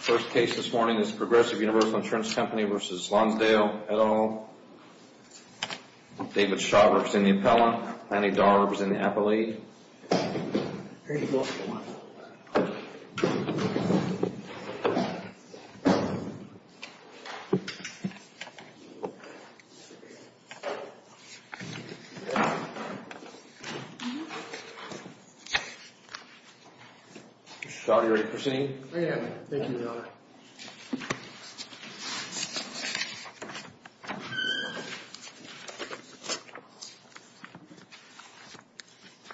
First case this morning is Progressive Universal Insurance Company v. Lonsdale, Edano. David Shaw works in the appellant. Lenny Darb is in the appellate. David Shaw, are you ready for the scene? I am.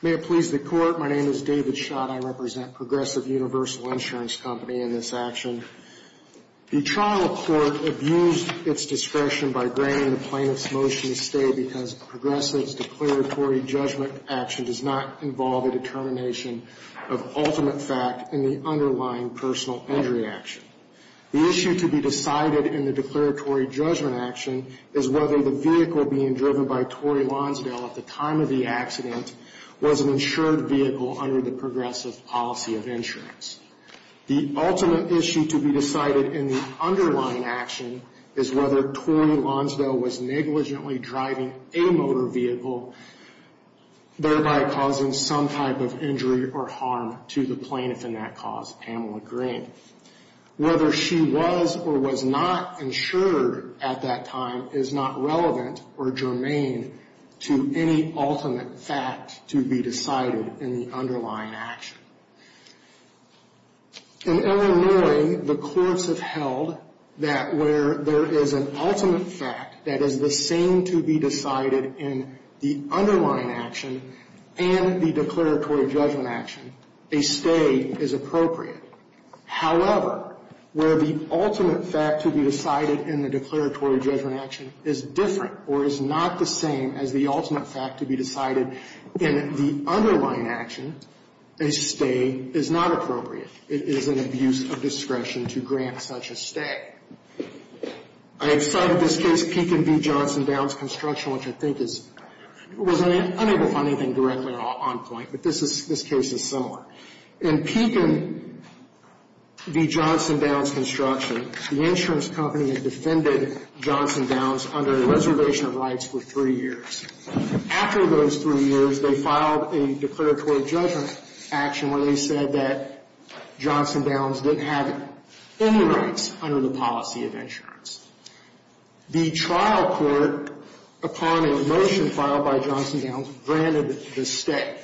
May it please the Court, my name is David Shaw and I represent Progressive Universal Insurance Company in this action. The trial court abused its discretion by granting the plaintiff's motion to stay because Progressive's declaratory judgment action does not involve a determination of ultimate fact in the underlying personal injury action. The issue to be decided in the declaratory judgment action is whether the vehicle being driven by Tory Lonsdale at the time of the accident was an insured vehicle under the Progressive policy of insurance. The ultimate issue to be decided in the underlying action is whether Tory Lonsdale was negligently driving a motor vehicle, thereby causing some type of injury or harm to the plaintiff in that cause, Pamela Green. Whether she was or was not insured at that time is not relevant or germane to any ultimate fact to be decided in the underlying action. In Illinois, the courts have held that where there is an ultimate fact that is the same to be decided in the underlying action and the declaratory judgment action, a stay is appropriate. However, where the ultimate fact to be decided in the declaratory judgment action is different or is not the same as the ultimate fact to be decided in the underlying action, a stay is not appropriate. It is an abuse of discretion to grant such a stay. I have cited this case, Pekin v. Johnson Downs Construction, which I think is, was unable to find anything directly on point, but this is, this case is similar. In Pekin v. Johnson Downs Construction, the insurance company had defended Johnson Downs under a reservation of rights for three years. After those three years, they filed a declaratory judgment action where they said that Johnson Downs didn't have any rights under the policy of insurance. The trial court, upon a motion filed by Johnson Downs, granted the stay.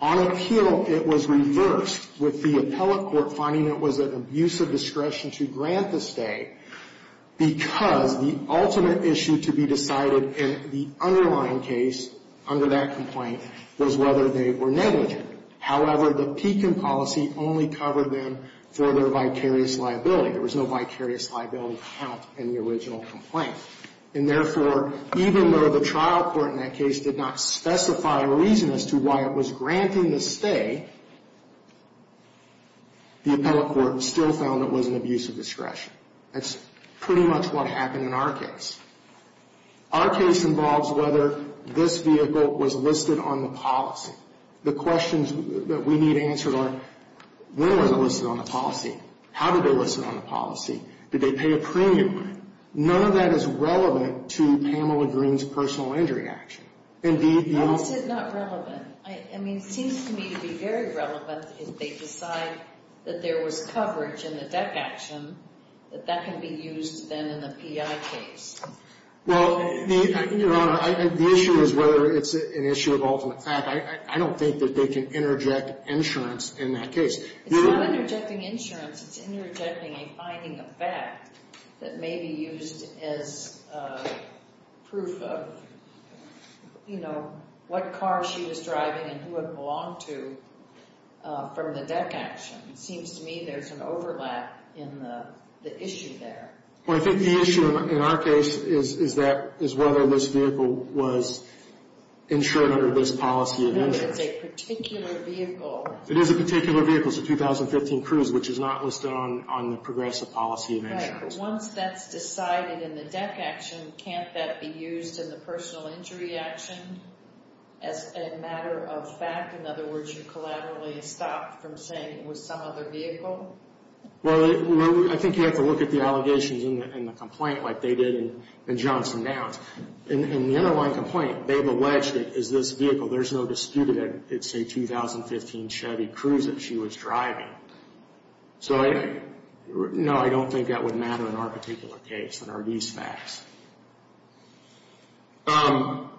On appeal, it was reversed, with the appellate court finding it was an abuse of discretion to grant the stay, because the ultimate issue to be decided in the underlying case under that complaint was whether they were negligent. However, the Pekin policy only covered them for their vicarious liability. There was no vicarious liability count in the original complaint. And therefore, even though the trial court in that case did not specify a reason as to why it was granting the stay, the appellate court still found it was an abuse of discretion. That's pretty much what happened in our case. Our case involves whether this vehicle was listed on the policy. The questions that we need answered are, when was it listed on the policy? How did they list it on the policy? Did they pay a premium? None of that is relevant to Pamela Greene's personal injury action. Indeed, the- How is it not relevant? I mean, it seems to me to be very relevant if they decide that there was coverage in the deck action, that that can be used then in the PI case. Well, Your Honor, the issue is whether it's an issue of ultimate fact. I don't think that they can interject insurance in that case. It's not interjecting insurance. It's interjecting a finding of fact that may be used as proof of, you know, what car she was driving and who it belonged to from the deck action. It seems to me there's an overlap in the issue there. Well, I think the issue in our case is that, is whether this vehicle was insured under this policy of insurance. No, it's a particular vehicle. It is a particular vehicle. It's a 2015 Cruze, which is not listed on the progressive policy of insurance. Once that's decided in the deck action, can't that be used in the personal injury action as a matter of fact? In other words, you collaterally stopped from saying it was some other vehicle? Well, I think you have to look at the allegations in the complaint like they did in Johnson Downs. In the underlying complaint, they've alleged it is this vehicle. There's no dispute that it's a 2015 Chevy Cruze that she was driving. So, no, I don't think that would matter in our particular case, in our lease facts. I've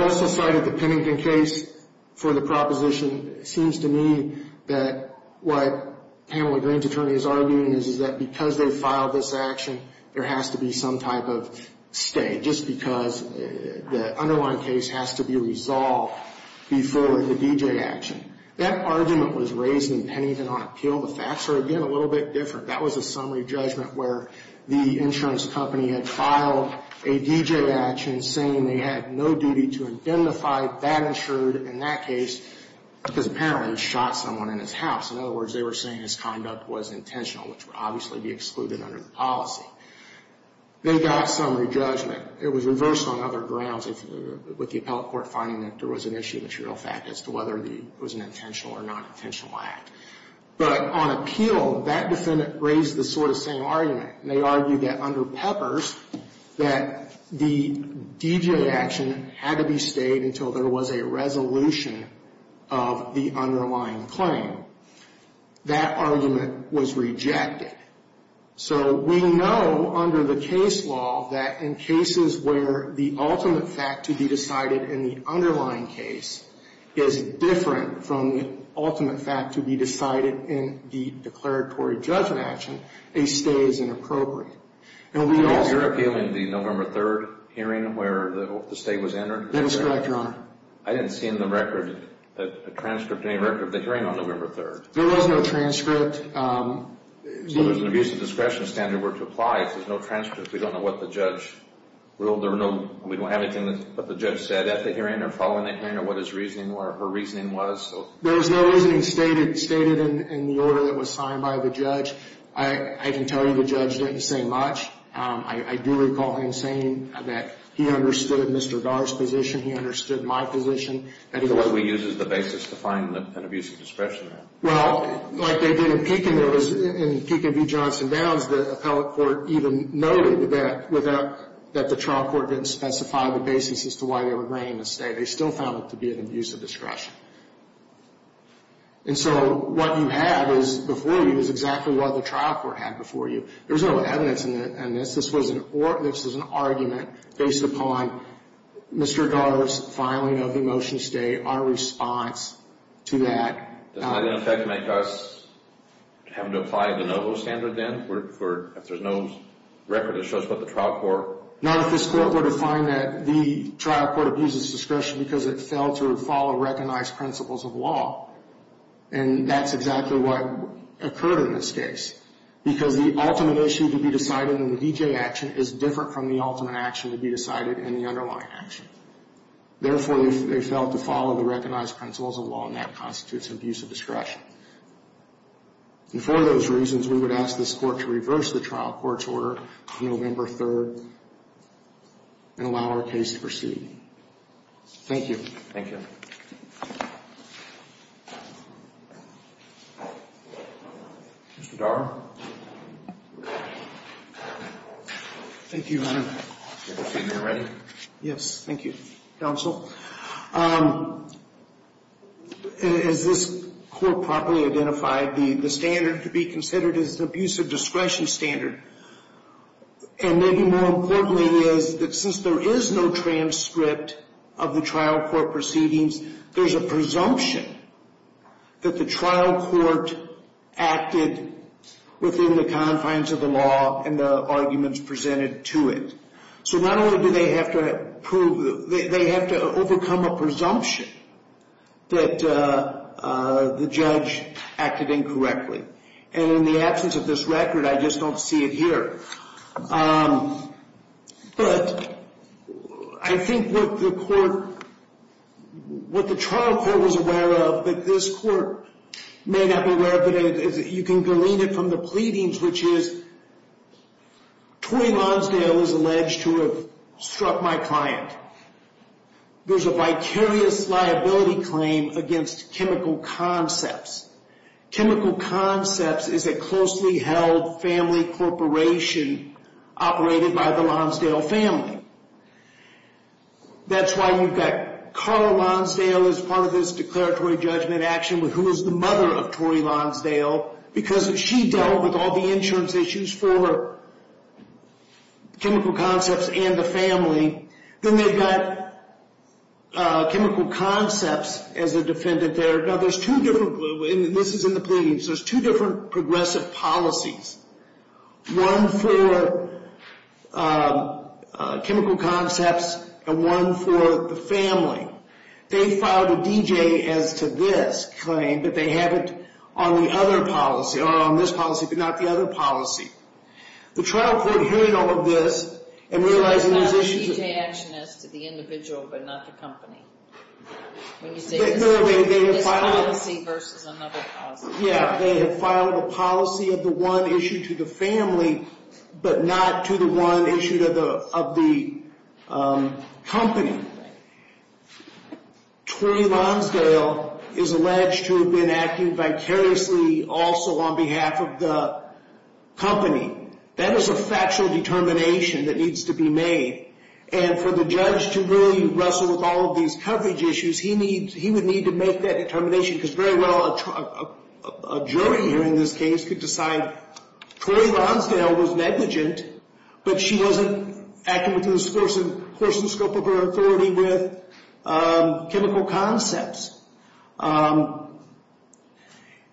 also cited the Pennington case for the proposition. It seems to me that what Pamela Green's attorney is arguing is that because they filed this action, there has to be some type of stay, just because the underlying case has to be resolved before the D.J. action. That argument was raised in Pennington on appeal. The facts are, again, a little bit different. That was a summary judgment where the insurance company had filed a D.J. action saying they had no duty to identify that insured in that case, because apparently he shot someone in his house. In other words, they were saying his conduct was intentional, which would obviously be excluded under the policy. They got summary judgment. It was reversed on other grounds with the appellate court finding that there was an issue of material fact as to whether it was an intentional or non-intentional act. But on appeal, that defendant raised the sort of same argument. They argued that under Peppers, that the D.J. action had to be stayed until there was a resolution of the underlying claim. That argument was rejected. So we know under the case law that in cases where the ultimate fact to be decided in the underlying case is different from the ultimate fact to be decided in the declaratory judgment action, a stay is inappropriate. And we also... You're appealing the November 3rd hearing where the stay was entered? That is correct, Your Honor. I didn't see in the record, a transcript, any record of the hearing on November 3rd. There was no transcript. So there's an abuse of discretion standard where to apply if there's no transcript. We don't know what the judge ruled. There were no... We don't have anything that the judge said at the hearing or following the hearing or what his reasoning or her reasoning was. There was no reasoning stated in the order that was signed by the judge. I can tell you the judge didn't say much. I do recall him saying that he understood Mr. Dart's position. He understood my position. So what do we use as the basis to find an abuse of discretion? Well, like they did in Pekin, there was, in Pekin v. Johnson Downs, the appellate court even noted that the trial court didn't specify the basis as to why they were bringing the stay. They still found it to be an abuse of discretion. And so what you have is, before you, is exactly what the trial court had before you. There's no evidence in this. This was an argument based upon Mr. Dart's filing of the motion to stay, our response to that. Does that, in effect, make us having to apply the NOVO standard then if there's no record that shows what the trial court... ...recognized principles of law, and that's exactly what occurred in this case, because the ultimate issue to be decided in the D.J. action is different from the ultimate action to be decided in the underlying action. Therefore, they failed to follow the recognized principles of law, and that constitutes an abuse of discretion. And for those reasons, we would ask this court to reverse the trial court's order on November 3rd and allow our case to proceed. Thank you. Thank you. Mr. Dar? Thank you, Your Honor. Do you have a statement ready? Yes, thank you, counsel. As this court properly identified, the standard to be considered is an abuse of discretion standard. And maybe more importantly is that since there is no transcript of the trial court proceedings, there's a presumption that the trial court acted within the confines of the law and the arguments presented to it. So not only do they have to prove, they have to overcome a presumption that the judge acted incorrectly. And in the absence of this record, I just don't see it here. But I think what the court, what the trial court was aware of, that this court may not be aware of, but you can glean it from the pleadings, which is, Toi Lonsdale is alleged to have struck my client. There's a vicarious liability claim against chemical concepts. Chemical concepts is a closely held family corporation operated by the Lonsdale family. That's why you've got Carl Lonsdale as part of this declaratory judgment action, who is the mother of Tori Lonsdale, because she dealt with all the insurance issues for chemical concepts and the family. Then they've got chemical concepts as a defendant there. Now there's two different, and this is in the pleadings, there's two different progressive policies. One for chemical concepts and one for the family. They filed a DJ as to this claim, but they have it on the other policy, or on this policy, but not the other policy. The trial court hearing all of this and realizing these issues- Policy versus another policy. Yeah, they have filed a policy of the one issued to the family, but not to the one issued of the company. Tori Lonsdale is alleged to have been acting vicariously also on behalf of the company. That is a factual determination that needs to be made. And for the judge to really wrestle with all of these coverage issues, he would need to make that determination, because very well a jury here in this case could decide Tori Lonsdale was negligent, but she wasn't acting within the course and scope of her authority with chemical concepts.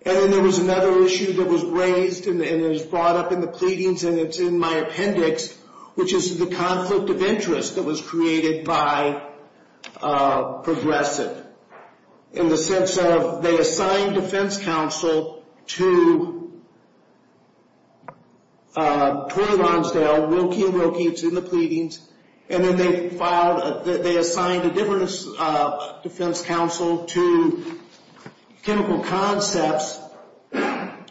And then there was another issue that was raised and is brought up in the pleadings and it's in my appendix, which is the conflict of interest that was created by Progressive. In the sense of they assigned defense counsel to Tori Lonsdale, Wilkie and Wilkie, it's in the pleadings. And then they filed, they assigned a different defense counsel to chemical concepts and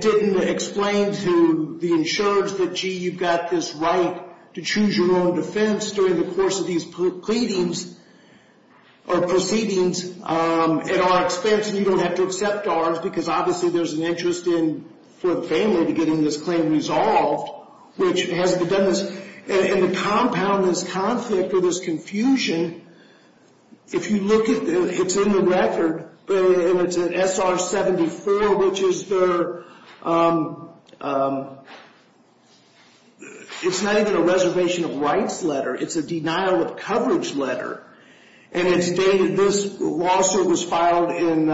didn't explain to the insurers that, gee, you've got this right to choose your own defense during the course of these pleadings or proceedings at our expense and you don't have to accept ours, because obviously there's an interest in, for the family, to getting this claim resolved, which hasn't been done in the compound of this conflict or this confusion. If you look at, it's in the record, and it's an SR-74, which is the, it's not even a reservation of rights letter, it's a denial of coverage letter. And it's dated, this lawsuit was filed in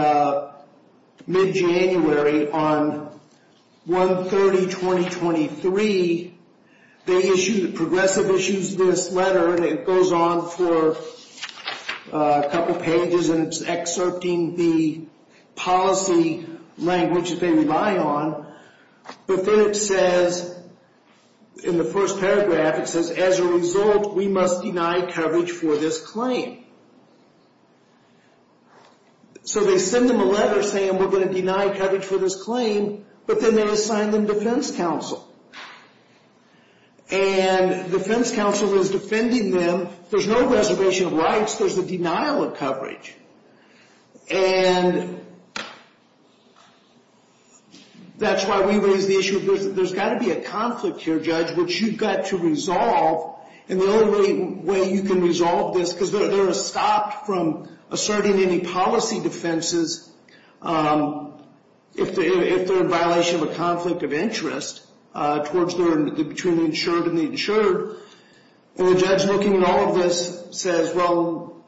mid-January on 1-30-2023. And they issued, Progressive issues this letter and it goes on for a couple pages and it's excerpting the policy language that they rely on. But then it says, in the first paragraph, it says, as a result, we must deny coverage for this claim. So they send them a letter saying we're going to deny coverage for this claim, but then they assign them defense counsel. And defense counsel is defending them, there's no reservation of rights, there's a denial of coverage. And that's why we raise the issue, there's got to be a conflict here, Judge, which you've got to resolve. And the only way you can resolve this, because they're stopped from asserting any policy defenses, if they're in violation of a conflict of interest between the insured and the insured. And the judge, looking at all of this, says, well,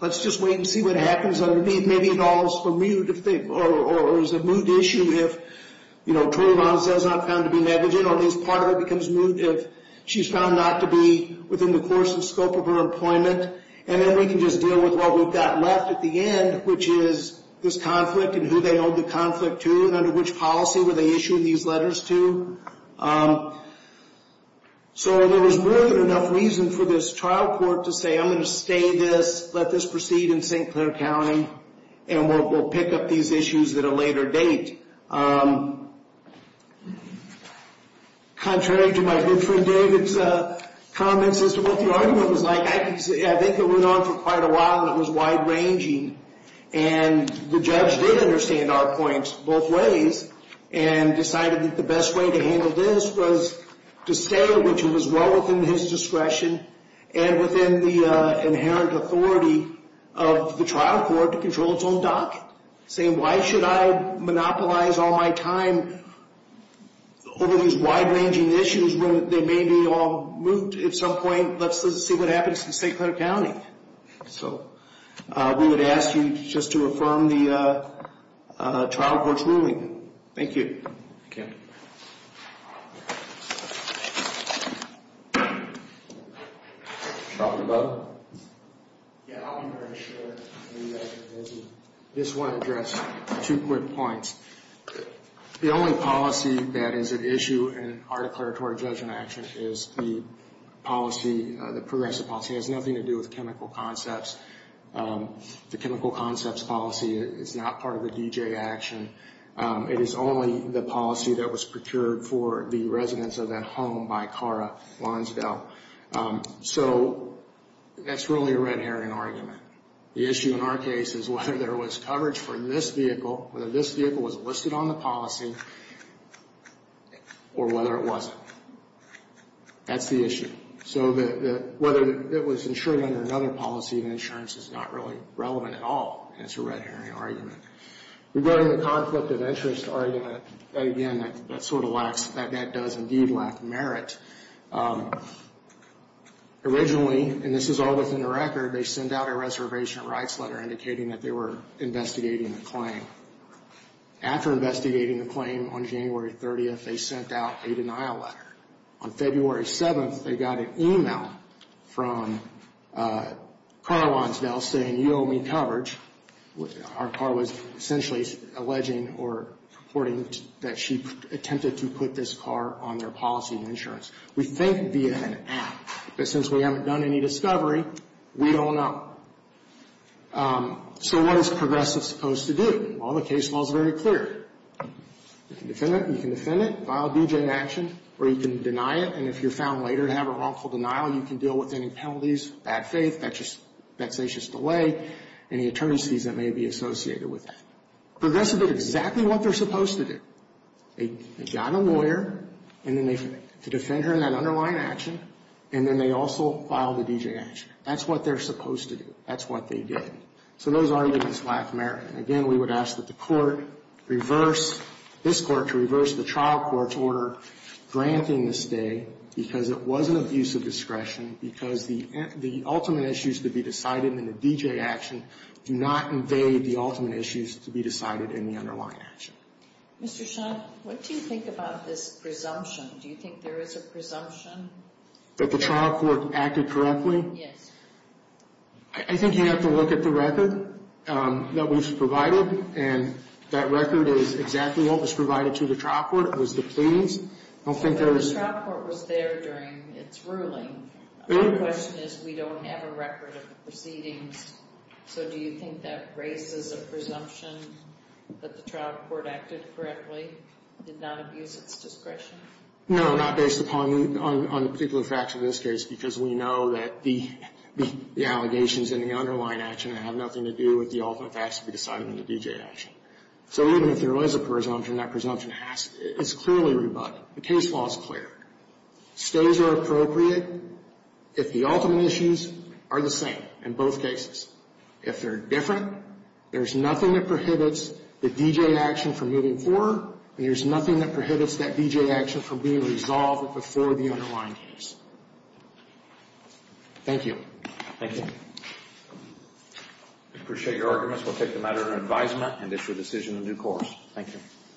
let's just wait and see what happens underneath. Maybe it all is for mute, or is a mute issue if, you know, totally wrong, says not found to be negligent, or at least part of it becomes mute if she's found not to be within the course and scope of her employment. And then we can just deal with what we've got left at the end, which is this conflict, and who they owe the conflict to, and under which policy were they issuing these letters to. So there was more than enough reason for this trial court to say, I'm going to stay this, let this proceed in St. Clair County, and we'll pick up these issues at a later date. Contrary to my good friend David's comments as to what the argument was like, I think it went on for quite a while, and it was wide-ranging. And the judge did understand our points both ways, and decided that the best way to handle this was to stay, which was well within his discretion, and within the inherent authority of the trial court to control its own docket. Saying, why should I monopolize all my time over these wide-ranging issues when they may be all moot at some point? Let's just see what happens in St. Clair County. So we would ask you just to affirm the trial court's ruling. Thank you. Thank you. Dr. Butler? Yeah, I want to make sure that you guys are busy. I just want to address two quick points. The only policy that is at issue in our declaratory judgment action is the policy, the progressive policy. It has nothing to do with chemical concepts. The chemical concepts policy is not part of the D.J. action. It is only the policy that was procured for the residents of that home by Kara Lonsdale. So that's really a red herring argument. The issue in our case is whether there was coverage for this vehicle, whether this vehicle was listed on the policy, or whether it wasn't. That's the issue. So whether it was insured under another policy, the insurance is not really relevant at all. And it's a red herring argument. Regarding the conflict of interest argument, again, that sort of lacks, that does indeed lack merit. Originally, and this is all within the record, they sent out a reservation rights letter indicating that they were investigating the claim. After investigating the claim on January 30th, they sent out a denial letter. On February 7th, they got an email from Kara Lonsdale saying, you owe me coverage. Our car was essentially alleging or reporting that she attempted to put this car on their policy of insurance. We think via an app. But since we haven't done any discovery, we don't know. So what is progressives supposed to do? Well, the case law is very clear. You can defend it, you can defend it, file a D.J. action, or you can deny it. And if you're found later to have a wrongful denial, you can deal with any penalties, bad faith, vexatious delay, any attorneys fees that may be associated with that. Progressives did exactly what they're supposed to do. They got a lawyer to defend her in that underlying action, and then they also filed a D.J. action. That's what they're supposed to do. That's what they did. So those arguments lack merit. Again, we would ask that the court reverse, this court, to reverse the trial court's order granting the stay because it was an abuse of discretion because the ultimate issues to be decided in a D.J. action do not invade the ultimate issues to be decided in the underlying action. Mr. Shaw, what do you think about this presumption? Do you think there is a presumption? That the trial court acted correctly? Yes. I think you have to look at the record that was provided, and that record is exactly what was provided to the trial court. It was the pleas. The trial court was there during its ruling. My question is, we don't have a record of the proceedings. So do you think that raises a presumption that the trial court acted correctly? Did not abuse its discretion? No, not based upon the particular facts of this case because we know that the allegations in the underlying action have nothing to do with the ultimate facts to be decided in the D.J. action. So even if there is a presumption, that presumption is clearly rebutted. The case law is clear. Stays are appropriate if the ultimate issues are the same in both cases. If they're different, there's nothing that prohibits the D.J. action from moving forward, and there's nothing that prohibits that D.J. action from being resolved before the underlying case. Thank you. Thank you. I appreciate your arguments. We'll take them as an advisement and issue a decision in due course. Thank you.